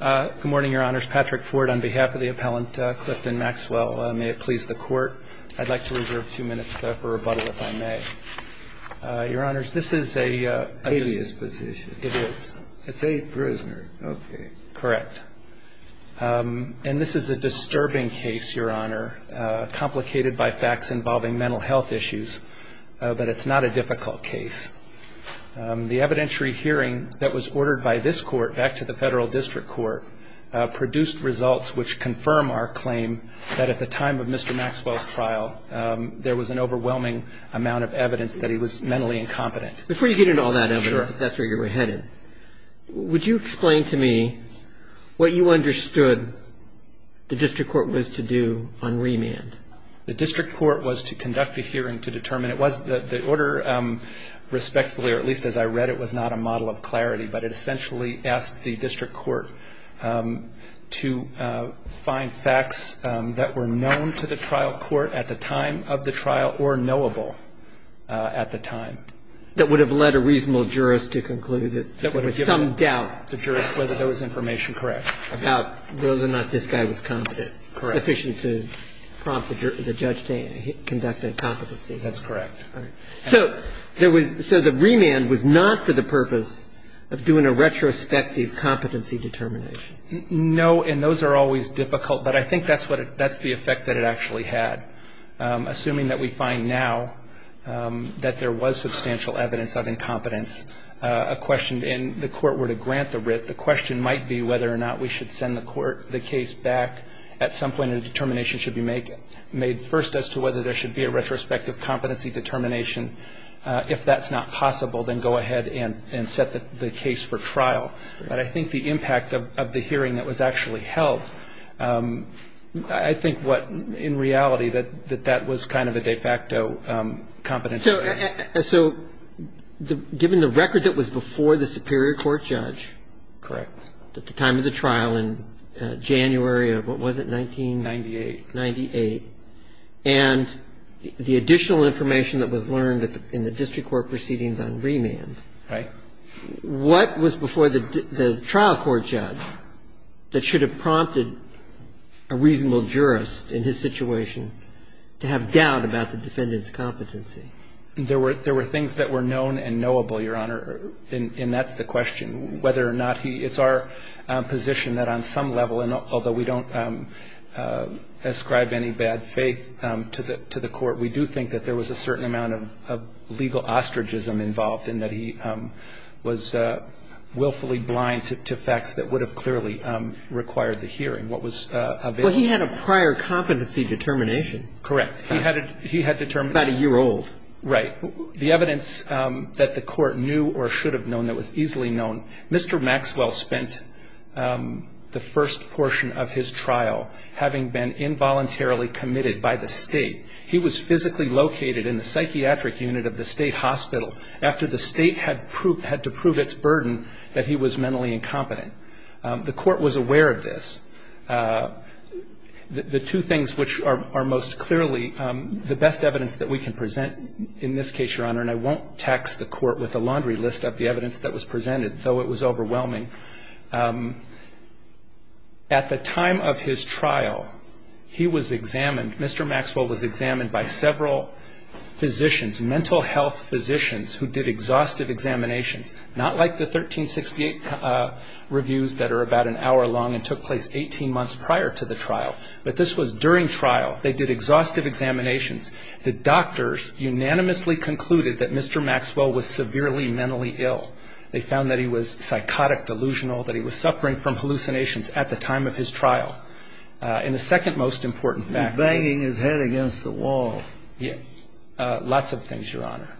Good morning, Your Honors. Patrick Ford on behalf of the appellant, Clifton Maxwell. May it please the Court, I'd like to reserve two minutes for rebuttal, if I may. Your Honors, this is a... Abuse position. It is. It's a prisoner. Okay. Correct. And this is a disturbing case, Your Honor, complicated by facts involving mental health issues. But it's not a difficult case. The evidentiary hearing that was ordered by this Court back to the Federal District Court produced results which confirm our claim that at the time of Mr. Maxwell's trial, there was an overwhelming amount of evidence that he was mentally incompetent. Before you get into all that evidence, if that's where you're headed, would you explain to me what you understood the District Court was to do on remand? The District Court was to conduct a hearing to determine the order respectfully, or at least as I read it, was not a model of clarity. But it essentially asked the District Court to find facts that were known to the trial court at the time of the trial or knowable at the time. That would have led a reasonable jurist to conclude that there was some doubt. That would have given the jurist whether there was information correct. About whether or not this guy was competent. Correct. That's sufficient to prompt the judge to conduct a competency hearing. That's correct. So there was – so the remand was not for the purpose of doing a retrospective competency determination. No, and those are always difficult. But I think that's what – that's the effect that it actually had. Assuming that we find now that there was substantial evidence of incompetence, a question – and the Court were to grant the writ, the question might be whether or not we should send the case back. At some point, a determination should be made first as to whether there should be a retrospective competency determination. If that's not possible, then go ahead and set the case for trial. But I think the impact of the hearing that was actually held, I think what – in reality, that that was kind of a de facto competency hearing. So given the record that was before the superior court judge. Correct. At the time of the trial in January of – what was it? 1998. 1998. And the additional information that was learned in the district court proceedings on remand. Right. What was before the trial court judge that should have prompted a reasonable jurist in his situation to have doubt about the defendant's competency? There were things that were known and knowable, Your Honor. And that's the question, whether or not he – it's our position that on some level, and although we don't ascribe any bad faith to the Court, we do think that there was a certain amount of legal ostracism involved in that he was willfully blind to facts that would have clearly required the hearing. What was – Well, he had a prior competency determination. Correct. He had determined – About a year old. Right. The evidence that the Court knew or should have known that was easily known. Mr. Maxwell spent the first portion of his trial having been involuntarily committed by the State. He was physically located in the psychiatric unit of the State hospital after the State had to prove its burden that he was mentally incompetent. The Court was aware of this. The two things which are most clearly the best evidence that we can present in this case, Your Honor, and I won't tax the Court with a laundry list of the evidence that was presented, though it was overwhelming. At the time of his trial, he was examined – Mr. Maxwell was examined by several physicians, mental health physicians who did exhaustive examinations, not like the 1368 reviews that are about an hour long and took place 18 months prior to the trial, but this was during trial. They did exhaustive examinations. The doctors unanimously concluded that Mr. Maxwell was severely mentally ill. They found that he was psychotic, delusional, that he was suffering from hallucinations at the time of his trial. And the second most important fact is – He was banging his head against the wall. Lots of things, Your Honor.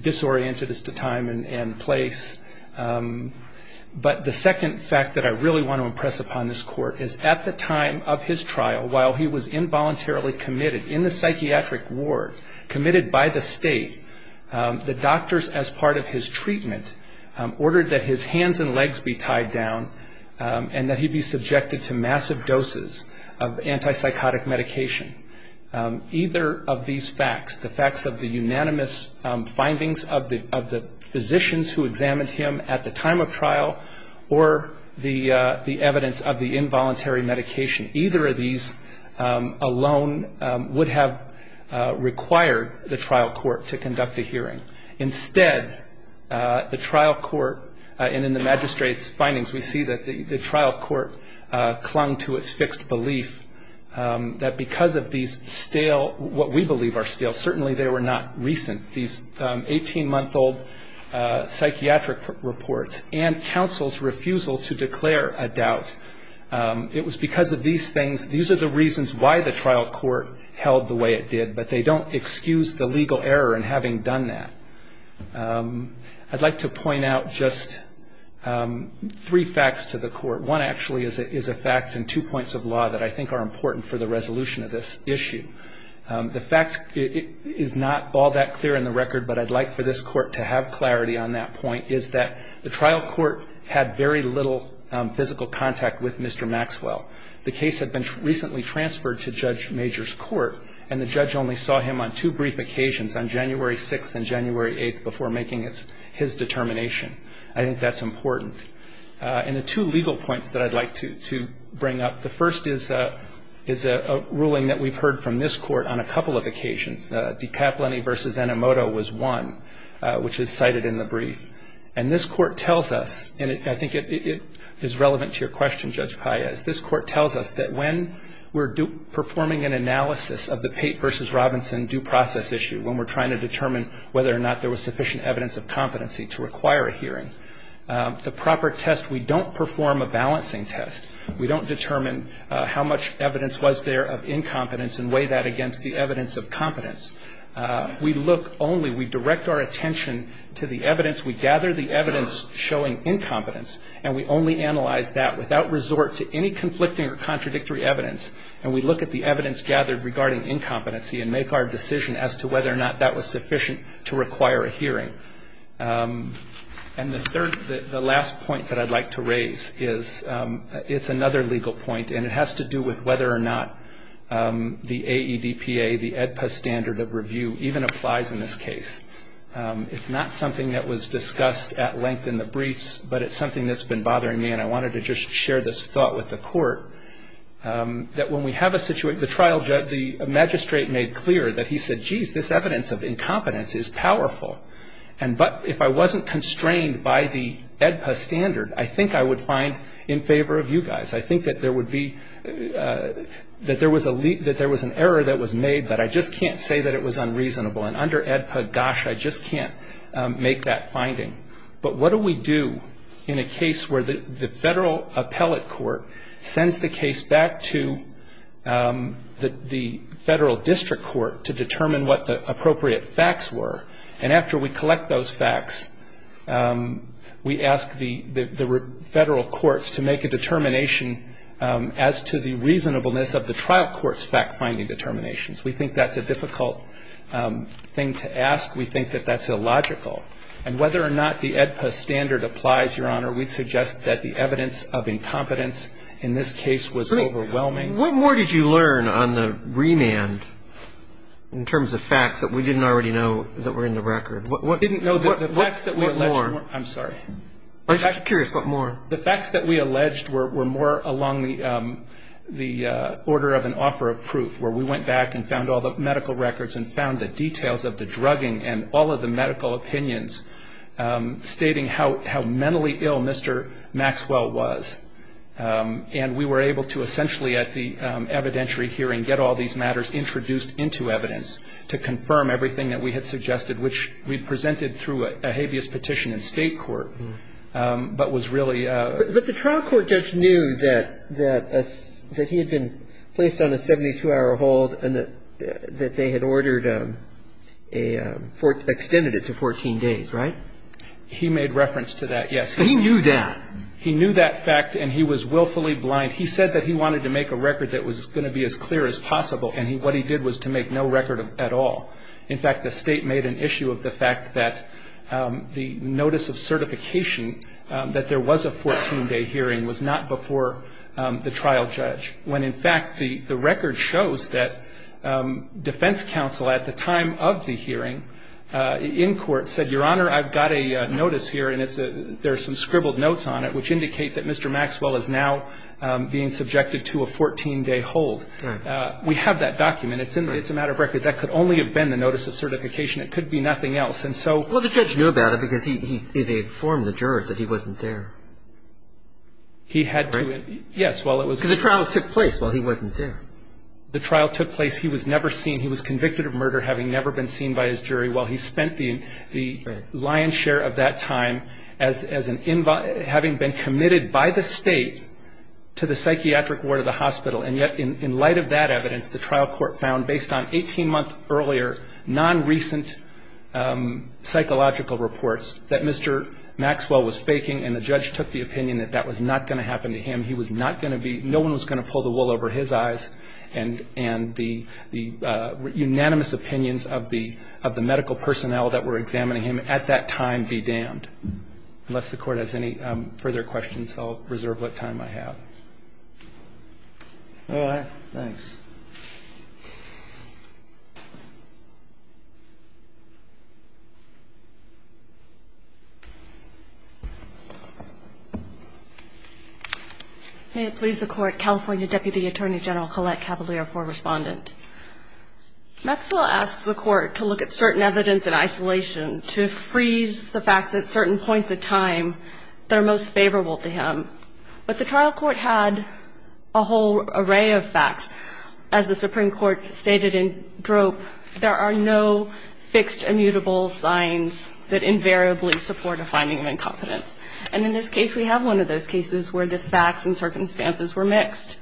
Disoriented as to time and place. But the second fact that I really want to impress upon this Court is at the time of his trial, while he was involuntarily committed in the psychiatric ward, committed by the State, the doctors as part of his treatment ordered that his hands and legs be tied down and that he be subjected to massive doses of antipsychotic medication. Either of these facts, the facts of the unanimous findings of the physicians who examined him at the time of trial or the evidence of the involuntary medication, either of these alone would have required the trial court to conduct a hearing. Instead, the trial court – and in the magistrate's findings, we see that the trial court clung to its fixed belief that because of these stale – what we believe are stale, certainly they were not recent. These 18-month-old psychiatric reports and counsel's refusal to declare a doubt, it was because of these things. These are the reasons why the trial court held the way it did, but they don't excuse the legal error in having done that. I'd like to point out just three facts to the Court. One actually is a fact in two points of law that I think are important for the resolution of this issue. The fact is not all that clear in the record, but I'd like for this Court to have clarity on that point, is that the trial court had very little physical contact with Mr. Maxwell. The case had been recently transferred to Judge Major's court, and the judge only saw him on two brief occasions, on January 6th and January 8th, before making his determination. I think that's important. And the two legal points that I'd like to bring up, the first is a ruling that we've heard from this Court on a couple of occasions. DiCaplini v. Enomoto was one, which is cited in the brief. And this Court tells us – and I think it is relevant to your question, Judge Paez – this Court tells us that when we're performing an analysis of the Pate v. Robinson due process issue, when we're trying to determine whether or not there was sufficient evidence of competency to require a hearing, the proper test, we don't perform a balancing test. We don't determine how much evidence was there of incompetence and weigh that against the evidence of competence. We look only, we direct our attention to the evidence, we gather the evidence showing incompetence, and we only analyze that without resort to any conflicting or contradictory evidence. And we look at the evidence gathered regarding incompetency and make our decision as to whether or not that was sufficient to require a hearing. And the last point that I'd like to raise is, it's another legal point, and it has to do with whether or not the AEDPA, the AEDPA standard of review, even applies in this case. It's not something that was discussed at length in the briefs, but it's something that's been bothering me, and I wanted to just share this thought with the court, that when we have a situation, the trial judge, the magistrate made clear that he said, geez, this evidence of incompetence is powerful, but if I wasn't constrained by the AEDPA standard, I think I would find in favor of you guys. I think that there would be, that there was an error that was made, but I just can't say that it was unreasonable. But what do we do in a case where the federal appellate court sends the case back to the federal district court to determine what the appropriate facts were, and after we collect those facts, we ask the federal courts to make a determination as to the reasonableness of the trial court's fact-finding determinations. We think that's a difficult thing to ask. We think that that's illogical. And whether or not the AEDPA standard applies, Your Honor, we'd suggest that the evidence of incompetence in this case was overwhelming. Great. What more did you learn on the remand in terms of facts that we didn't already know that were in the record? What more? I'm sorry. I'm just curious. What more? The facts that we alleged were more along the order of an offer of proof, where we went back and found all the medical records and found the details of the drugging and all of the medical opinions stating how mentally ill Mr. Maxwell was. And we were able to essentially, at the evidentiary hearing, get all these matters introduced into evidence to confirm everything that we had suggested, which we presented through a habeas petition in state court, but was really ‑‑ But the trial court judge knew that he had been placed on a 72‑hour hold and that they had ordered a ‑‑ extended it to 14 days, right? He made reference to that, yes. He knew that? He knew that fact, and he was willfully blind. He said that he wanted to make a record that was going to be as clear as possible, and what he did was to make no record at all. In fact, the state made an issue of the fact that the notice of certification that there was a 14‑day hearing was not before the trial judge, when in fact the record shows that defense counsel at the time of the hearing in court said, Your Honor, I've got a notice here, and there are some scribbled notes on it which indicate that Mr. Maxwell is now being subjected to a 14‑day hold. Right. We have that document. It's a matter of record. That could only have been the notice of certification. It could be nothing else, and so ‑‑ Well, the judge knew about it because he informed the jurors that he wasn't there. He had to ‑‑ Right? Yes, well, it was ‑‑ Because the trial took place while he wasn't there. The trial took place. He was never seen. He was convicted of murder having never been seen by his jury while he spent the lion's share of that time as an ‑‑ having been committed by the state to the psychiatric ward of the hospital, and yet in light of that evidence, the trial court found based on 18‑month earlier non‑recent psychological reports that Mr. Maxwell was faking, and the judge took the opinion that that was not going to happen to him. He was not going to be ‑‑ no one was going to pull the wool over his eyes and the unanimous opinions of the medical personnel that were examining him at that time be damned. Unless the Court has any further questions, I'll reserve what time I have. All right. Thanks. May it please the Court, California Deputy Attorney General Colette Cavalier, for a respondent. Maxwell asks the Court to look at certain evidence in isolation to freeze the fact that certain points of time that are most favorable to him, but the trial court had a whole array of facts. As the Supreme Court stated in drope, there are no fixed immutable signs that invariably support a finding of incompetence, and in this case we have one of those cases where the facts and circumstances were mixed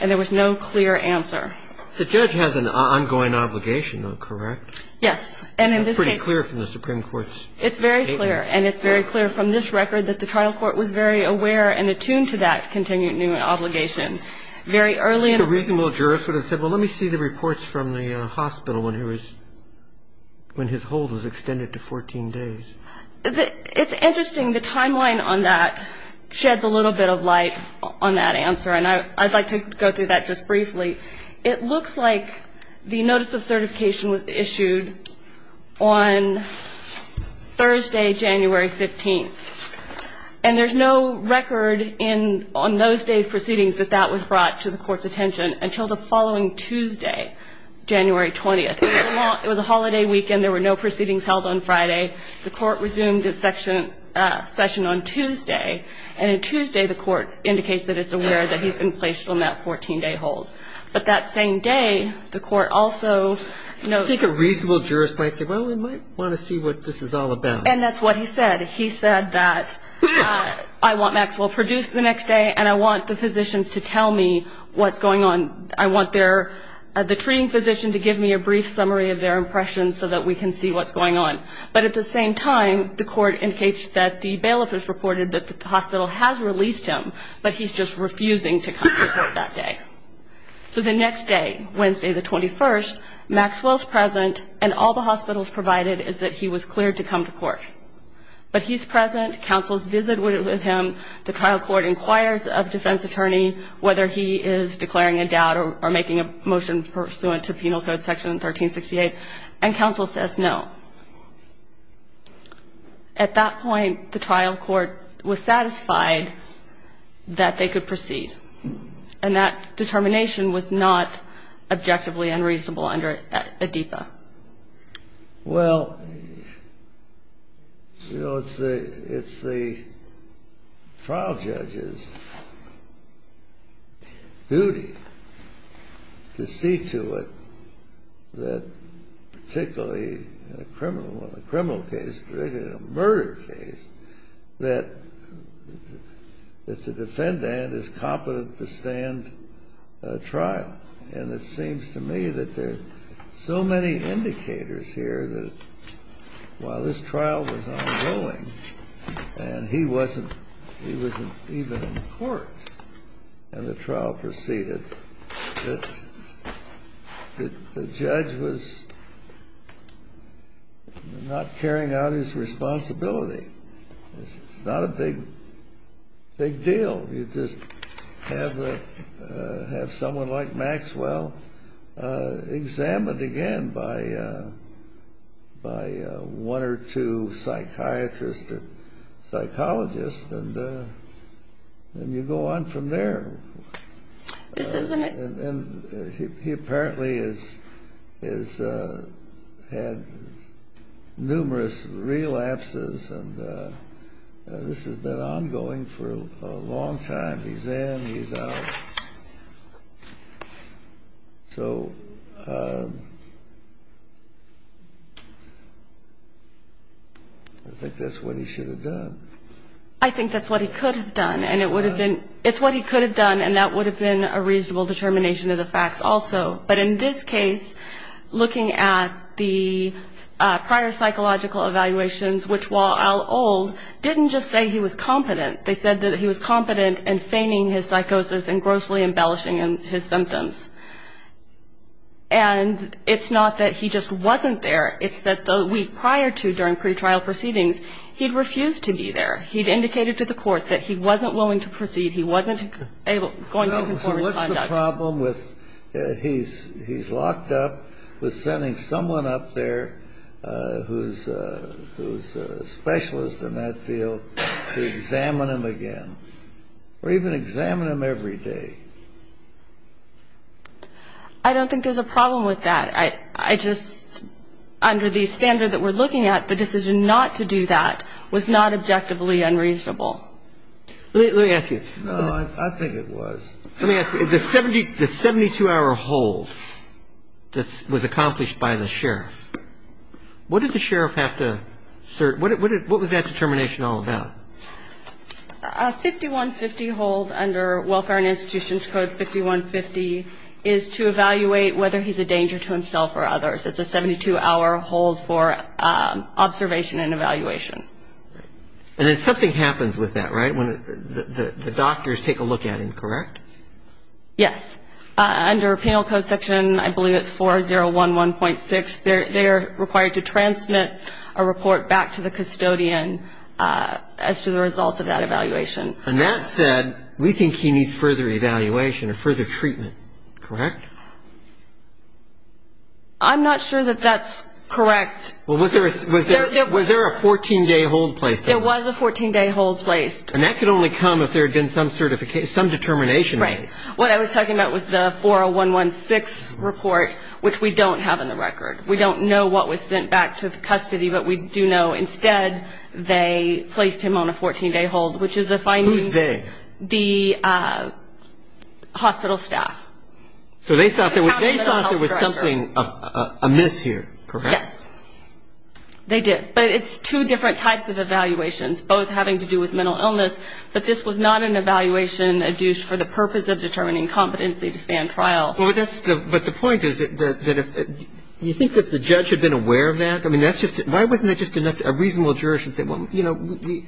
and there was no clear answer. The judge has an ongoing obligation, correct? Yes, and in this case ‑‑ That's pretty clear from the Supreme Court's statement. It's very clear, and it's very clear from this record that the trial court was very aware and attuned to that continuing obligation very early in the process. I think a reasonable jurist would have said, well, let me see the reports from the hospital when he was ‑‑ when his hold was extended to 14 days. It's interesting. The timeline on that sheds a little bit of light on that answer, and I'd like to go through that just briefly. It looks like the notice of certification was issued on Thursday, January 15th. And there's no record on those days proceedings that that was brought to the court's attention until the following Tuesday, January 20th. It was a holiday weekend. There were no proceedings held on Friday. The court resumed its session on Tuesday, and on Tuesday the court indicates that it's aware that he's been placed on that 14-day hold. But that same day, the court also notes ‑‑ I think a reasonable jurist might say, well, we might want to see what this is all about. And that's what he said. He said that I want Maxwell produced the next day, and I want the physicians to tell me what's going on. I want their ‑‑ the treating physician to give me a brief summary of their impressions so that we can see what's going on. But at the same time, the court indicates that the bailiff has reported that the hospital has released him, but he's just refusing to come to court that day. So the next day, Wednesday the 21st, Maxwell's present, and all the hospitals provided is that he was cleared to come to court. But he's present. Counsel's visit with him. The trial court inquires of defense attorney whether he is declaring a doubt or making a motion pursuant to Penal Code Section 1368, and counsel says no. At that point, the trial court was satisfied that they could proceed, and that determination was not objectively unreasonable under ADEPA. Well, you know, it's the trial judge's duty to see to it that particularly in a criminal case, particularly in a murder case, that the defendant is competent to stand trial. And it seems to me that there are so many indicators here that while this trial was ongoing and he wasn't even in court and the trial proceeded, that the judge was not carrying out his responsibility. It's not a big deal. You just have someone like Maxwell examined again by one or two psychiatrists or psychologists, and then you go on from there. And he apparently has had numerous relapses, and this has been ongoing for a long time. He's in, he's out. So I think that's what he should have done. I think that's what he could have done. And it would have been, it's what he could have done, and that would have been a reasonable determination of the facts also. But in this case, looking at the prior psychological evaluations, which while old, didn't just say he was competent. They said that he was competent in feigning his psychosis and grossly embellishing his symptoms. And it's not that he just wasn't there. It's that the week prior to during pretrial proceedings, he'd refused to be there. He'd indicated to the court that he wasn't willing to proceed. He wasn't going to conform his conduct. Well, what's the problem with he's locked up with sending someone up there who's a specialist in that field to examine him again, or even examine him every day? I don't think there's a problem with that. I just, under the standard that we're looking at, the decision not to do that was not objectively unreasonable. Let me ask you. No, I think it was. Let me ask you. The 72-hour hold that was accomplished by the sheriff, what did the sheriff have to assert? What was that determination all about? A 5150 hold under Welfare and Institutions Code 5150 is to evaluate whether he's a danger to himself or others. It's a 72-hour hold for observation and evaluation. And then something happens with that, right, when the doctors take a look at him, correct? Yes. Under penal code section, I believe it's 4011.6, they are required to transmit a report back to the custodian as to the results of that evaluation. And that said, we think he needs further evaluation or further treatment, correct? I'm not sure that that's correct. Was there a 14-day hold placed on him? There was a 14-day hold placed. And that could only come if there had been some determination. Right. What I was talking about was the 4011.6 report, which we don't have in the record. We don't know what was sent back to the custody, but we do know instead they placed him on a 14-day hold, which is if I need the hospital staff. So they thought there was something amiss here, correct? Yes. They did. But it's two different types of evaluations, both having to do with mental illness. But this was not an evaluation adduced for the purpose of determining competency to stay on trial. But the point is that if you think if the judge had been aware of that, I mean, that's just why wasn't that just a reasonable juror should say, well, you know, we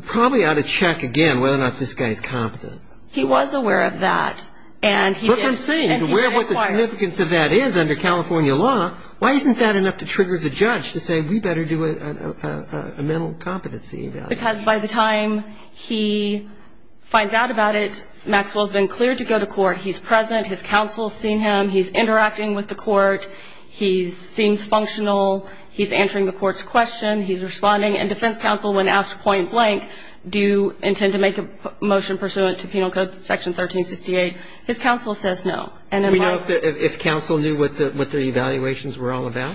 probably ought to check again whether or not this guy is competent. He was aware of that, and he did. But from saying he's aware of what the significance of that is under California law, why isn't that enough to trigger the judge to say we better do a mental competency evaluation? Because by the time he finds out about it, Maxwell has been cleared to go to court. He's present. His counsel has seen him. He's interacting with the court. He seems functional. He's answering the court's question. He's responding. And defense counsel, when asked point blank, do you intend to make a motion pursuant to Penal Code Section 1368, his counsel says no. Do we know if counsel knew what the evaluations were all about?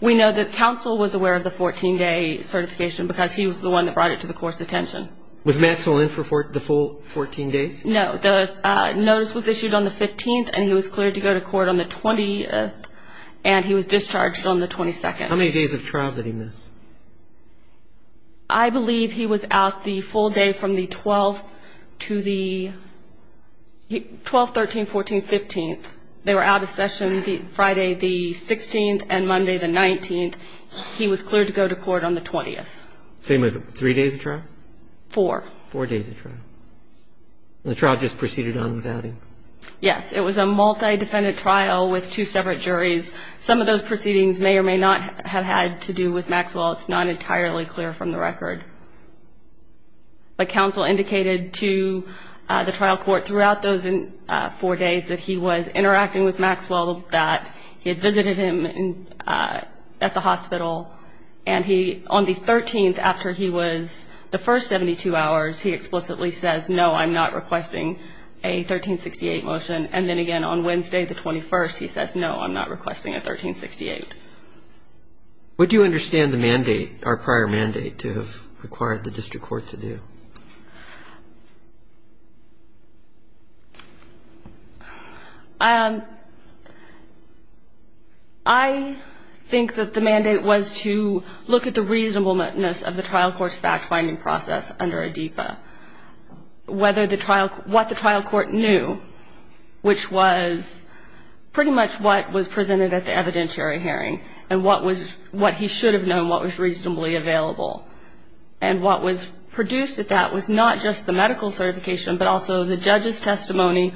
We know that counsel was aware of the 14-day certification because he was the one that brought it to the court's attention. Was Maxwell in for the full 14 days? No. The notice was issued on the 15th, and he was cleared to go to court on the 20th, and he was discharged on the 22nd. How many days of trial did he miss? I believe he was out the full day from the 12th to the 12th, 13th, 14th, 15th. They were out of session Friday the 16th and Monday the 19th. He was cleared to go to court on the 20th. Same as three days of trial? Four. Four days of trial. And the trial just proceeded on without him? Yes. It was a multi-defendant trial with two separate juries. Some of those proceedings may or may not have had to do with Maxwell. It's not entirely clear from the record. But counsel indicated to the trial court throughout those four days that he was interacting with Maxwell, that he had visited him at the hospital, and he, on the 13th, after he was the first 72 hours, he explicitly says, no, I'm not requesting a 1368 motion. And then again, on Wednesday, the 21st, he says, no, I'm not requesting a 1368. Would you understand the mandate, or prior mandate, to have required the district court to do? I think that the mandate was to look at the reasonableness of the trial court's fact-finding process under ADEPA. What the trial court knew, which was pretty much what was presented at the evidentiary hearing, and what he should have known, what was reasonably available. And what was produced at that was not just the medical certification, but also the judge's testimony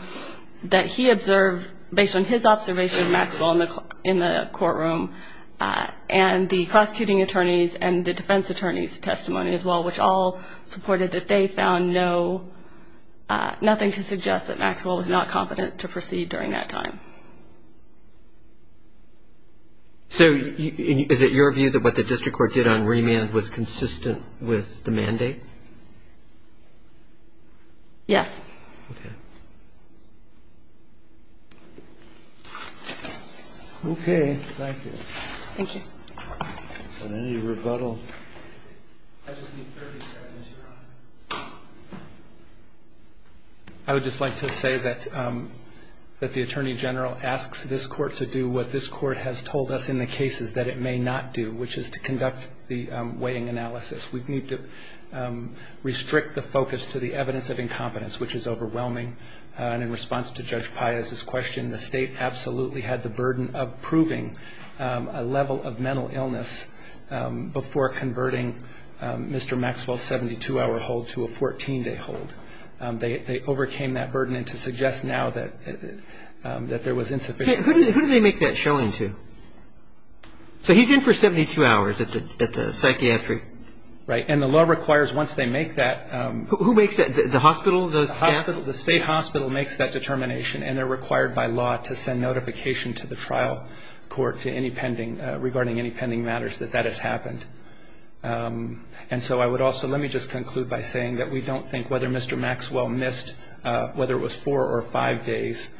that he observed based on his observation of Maxwell in the courtroom, and the prosecuting attorney's and the defense attorney's testimony as well, which all supported that they found no, nothing to suggest that Maxwell was not competent to proceed during that time. So is it your view that what the district court did on remand was consistent with the mandate? Yes. Okay. Okay. Thank you. Thank you. Any rebuttal? I just need 30 seconds. I would just like to say that the attorney general asks this court to do what this court has told us in the cases that it may not do, which is to conduct the weighing analysis. We need to restrict the focus to the evidence of incompetence, which is overwhelming. And in response to Judge Piazza's question, the State absolutely had the burden of proving a level of mental illness before converting Mr. Maxwell's 72-hour hold to a 14-day hold. They overcame that burden. And to suggest now that there was insufficient evidence. Who did they make that showing to? So he's in for 72 hours at the psychiatry. Right. And the law requires once they make that. Who makes that? The hospital, the staff? The state hospital makes that determination, and they're required by law to send notification to the trial court regarding any pending matters that that has happened. And so I would also let me just conclude by saying that we don't think whether Mr. Maxwell missed, whether it was four or five days,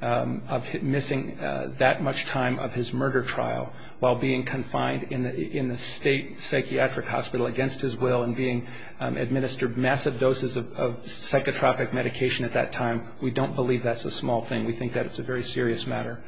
of missing that much time of his murder trial while being confined in the state psychiatric hospital against his will and being administered massive doses of psychotropic medication at that time. We don't believe that's a small thing. We think that it's a very serious matter.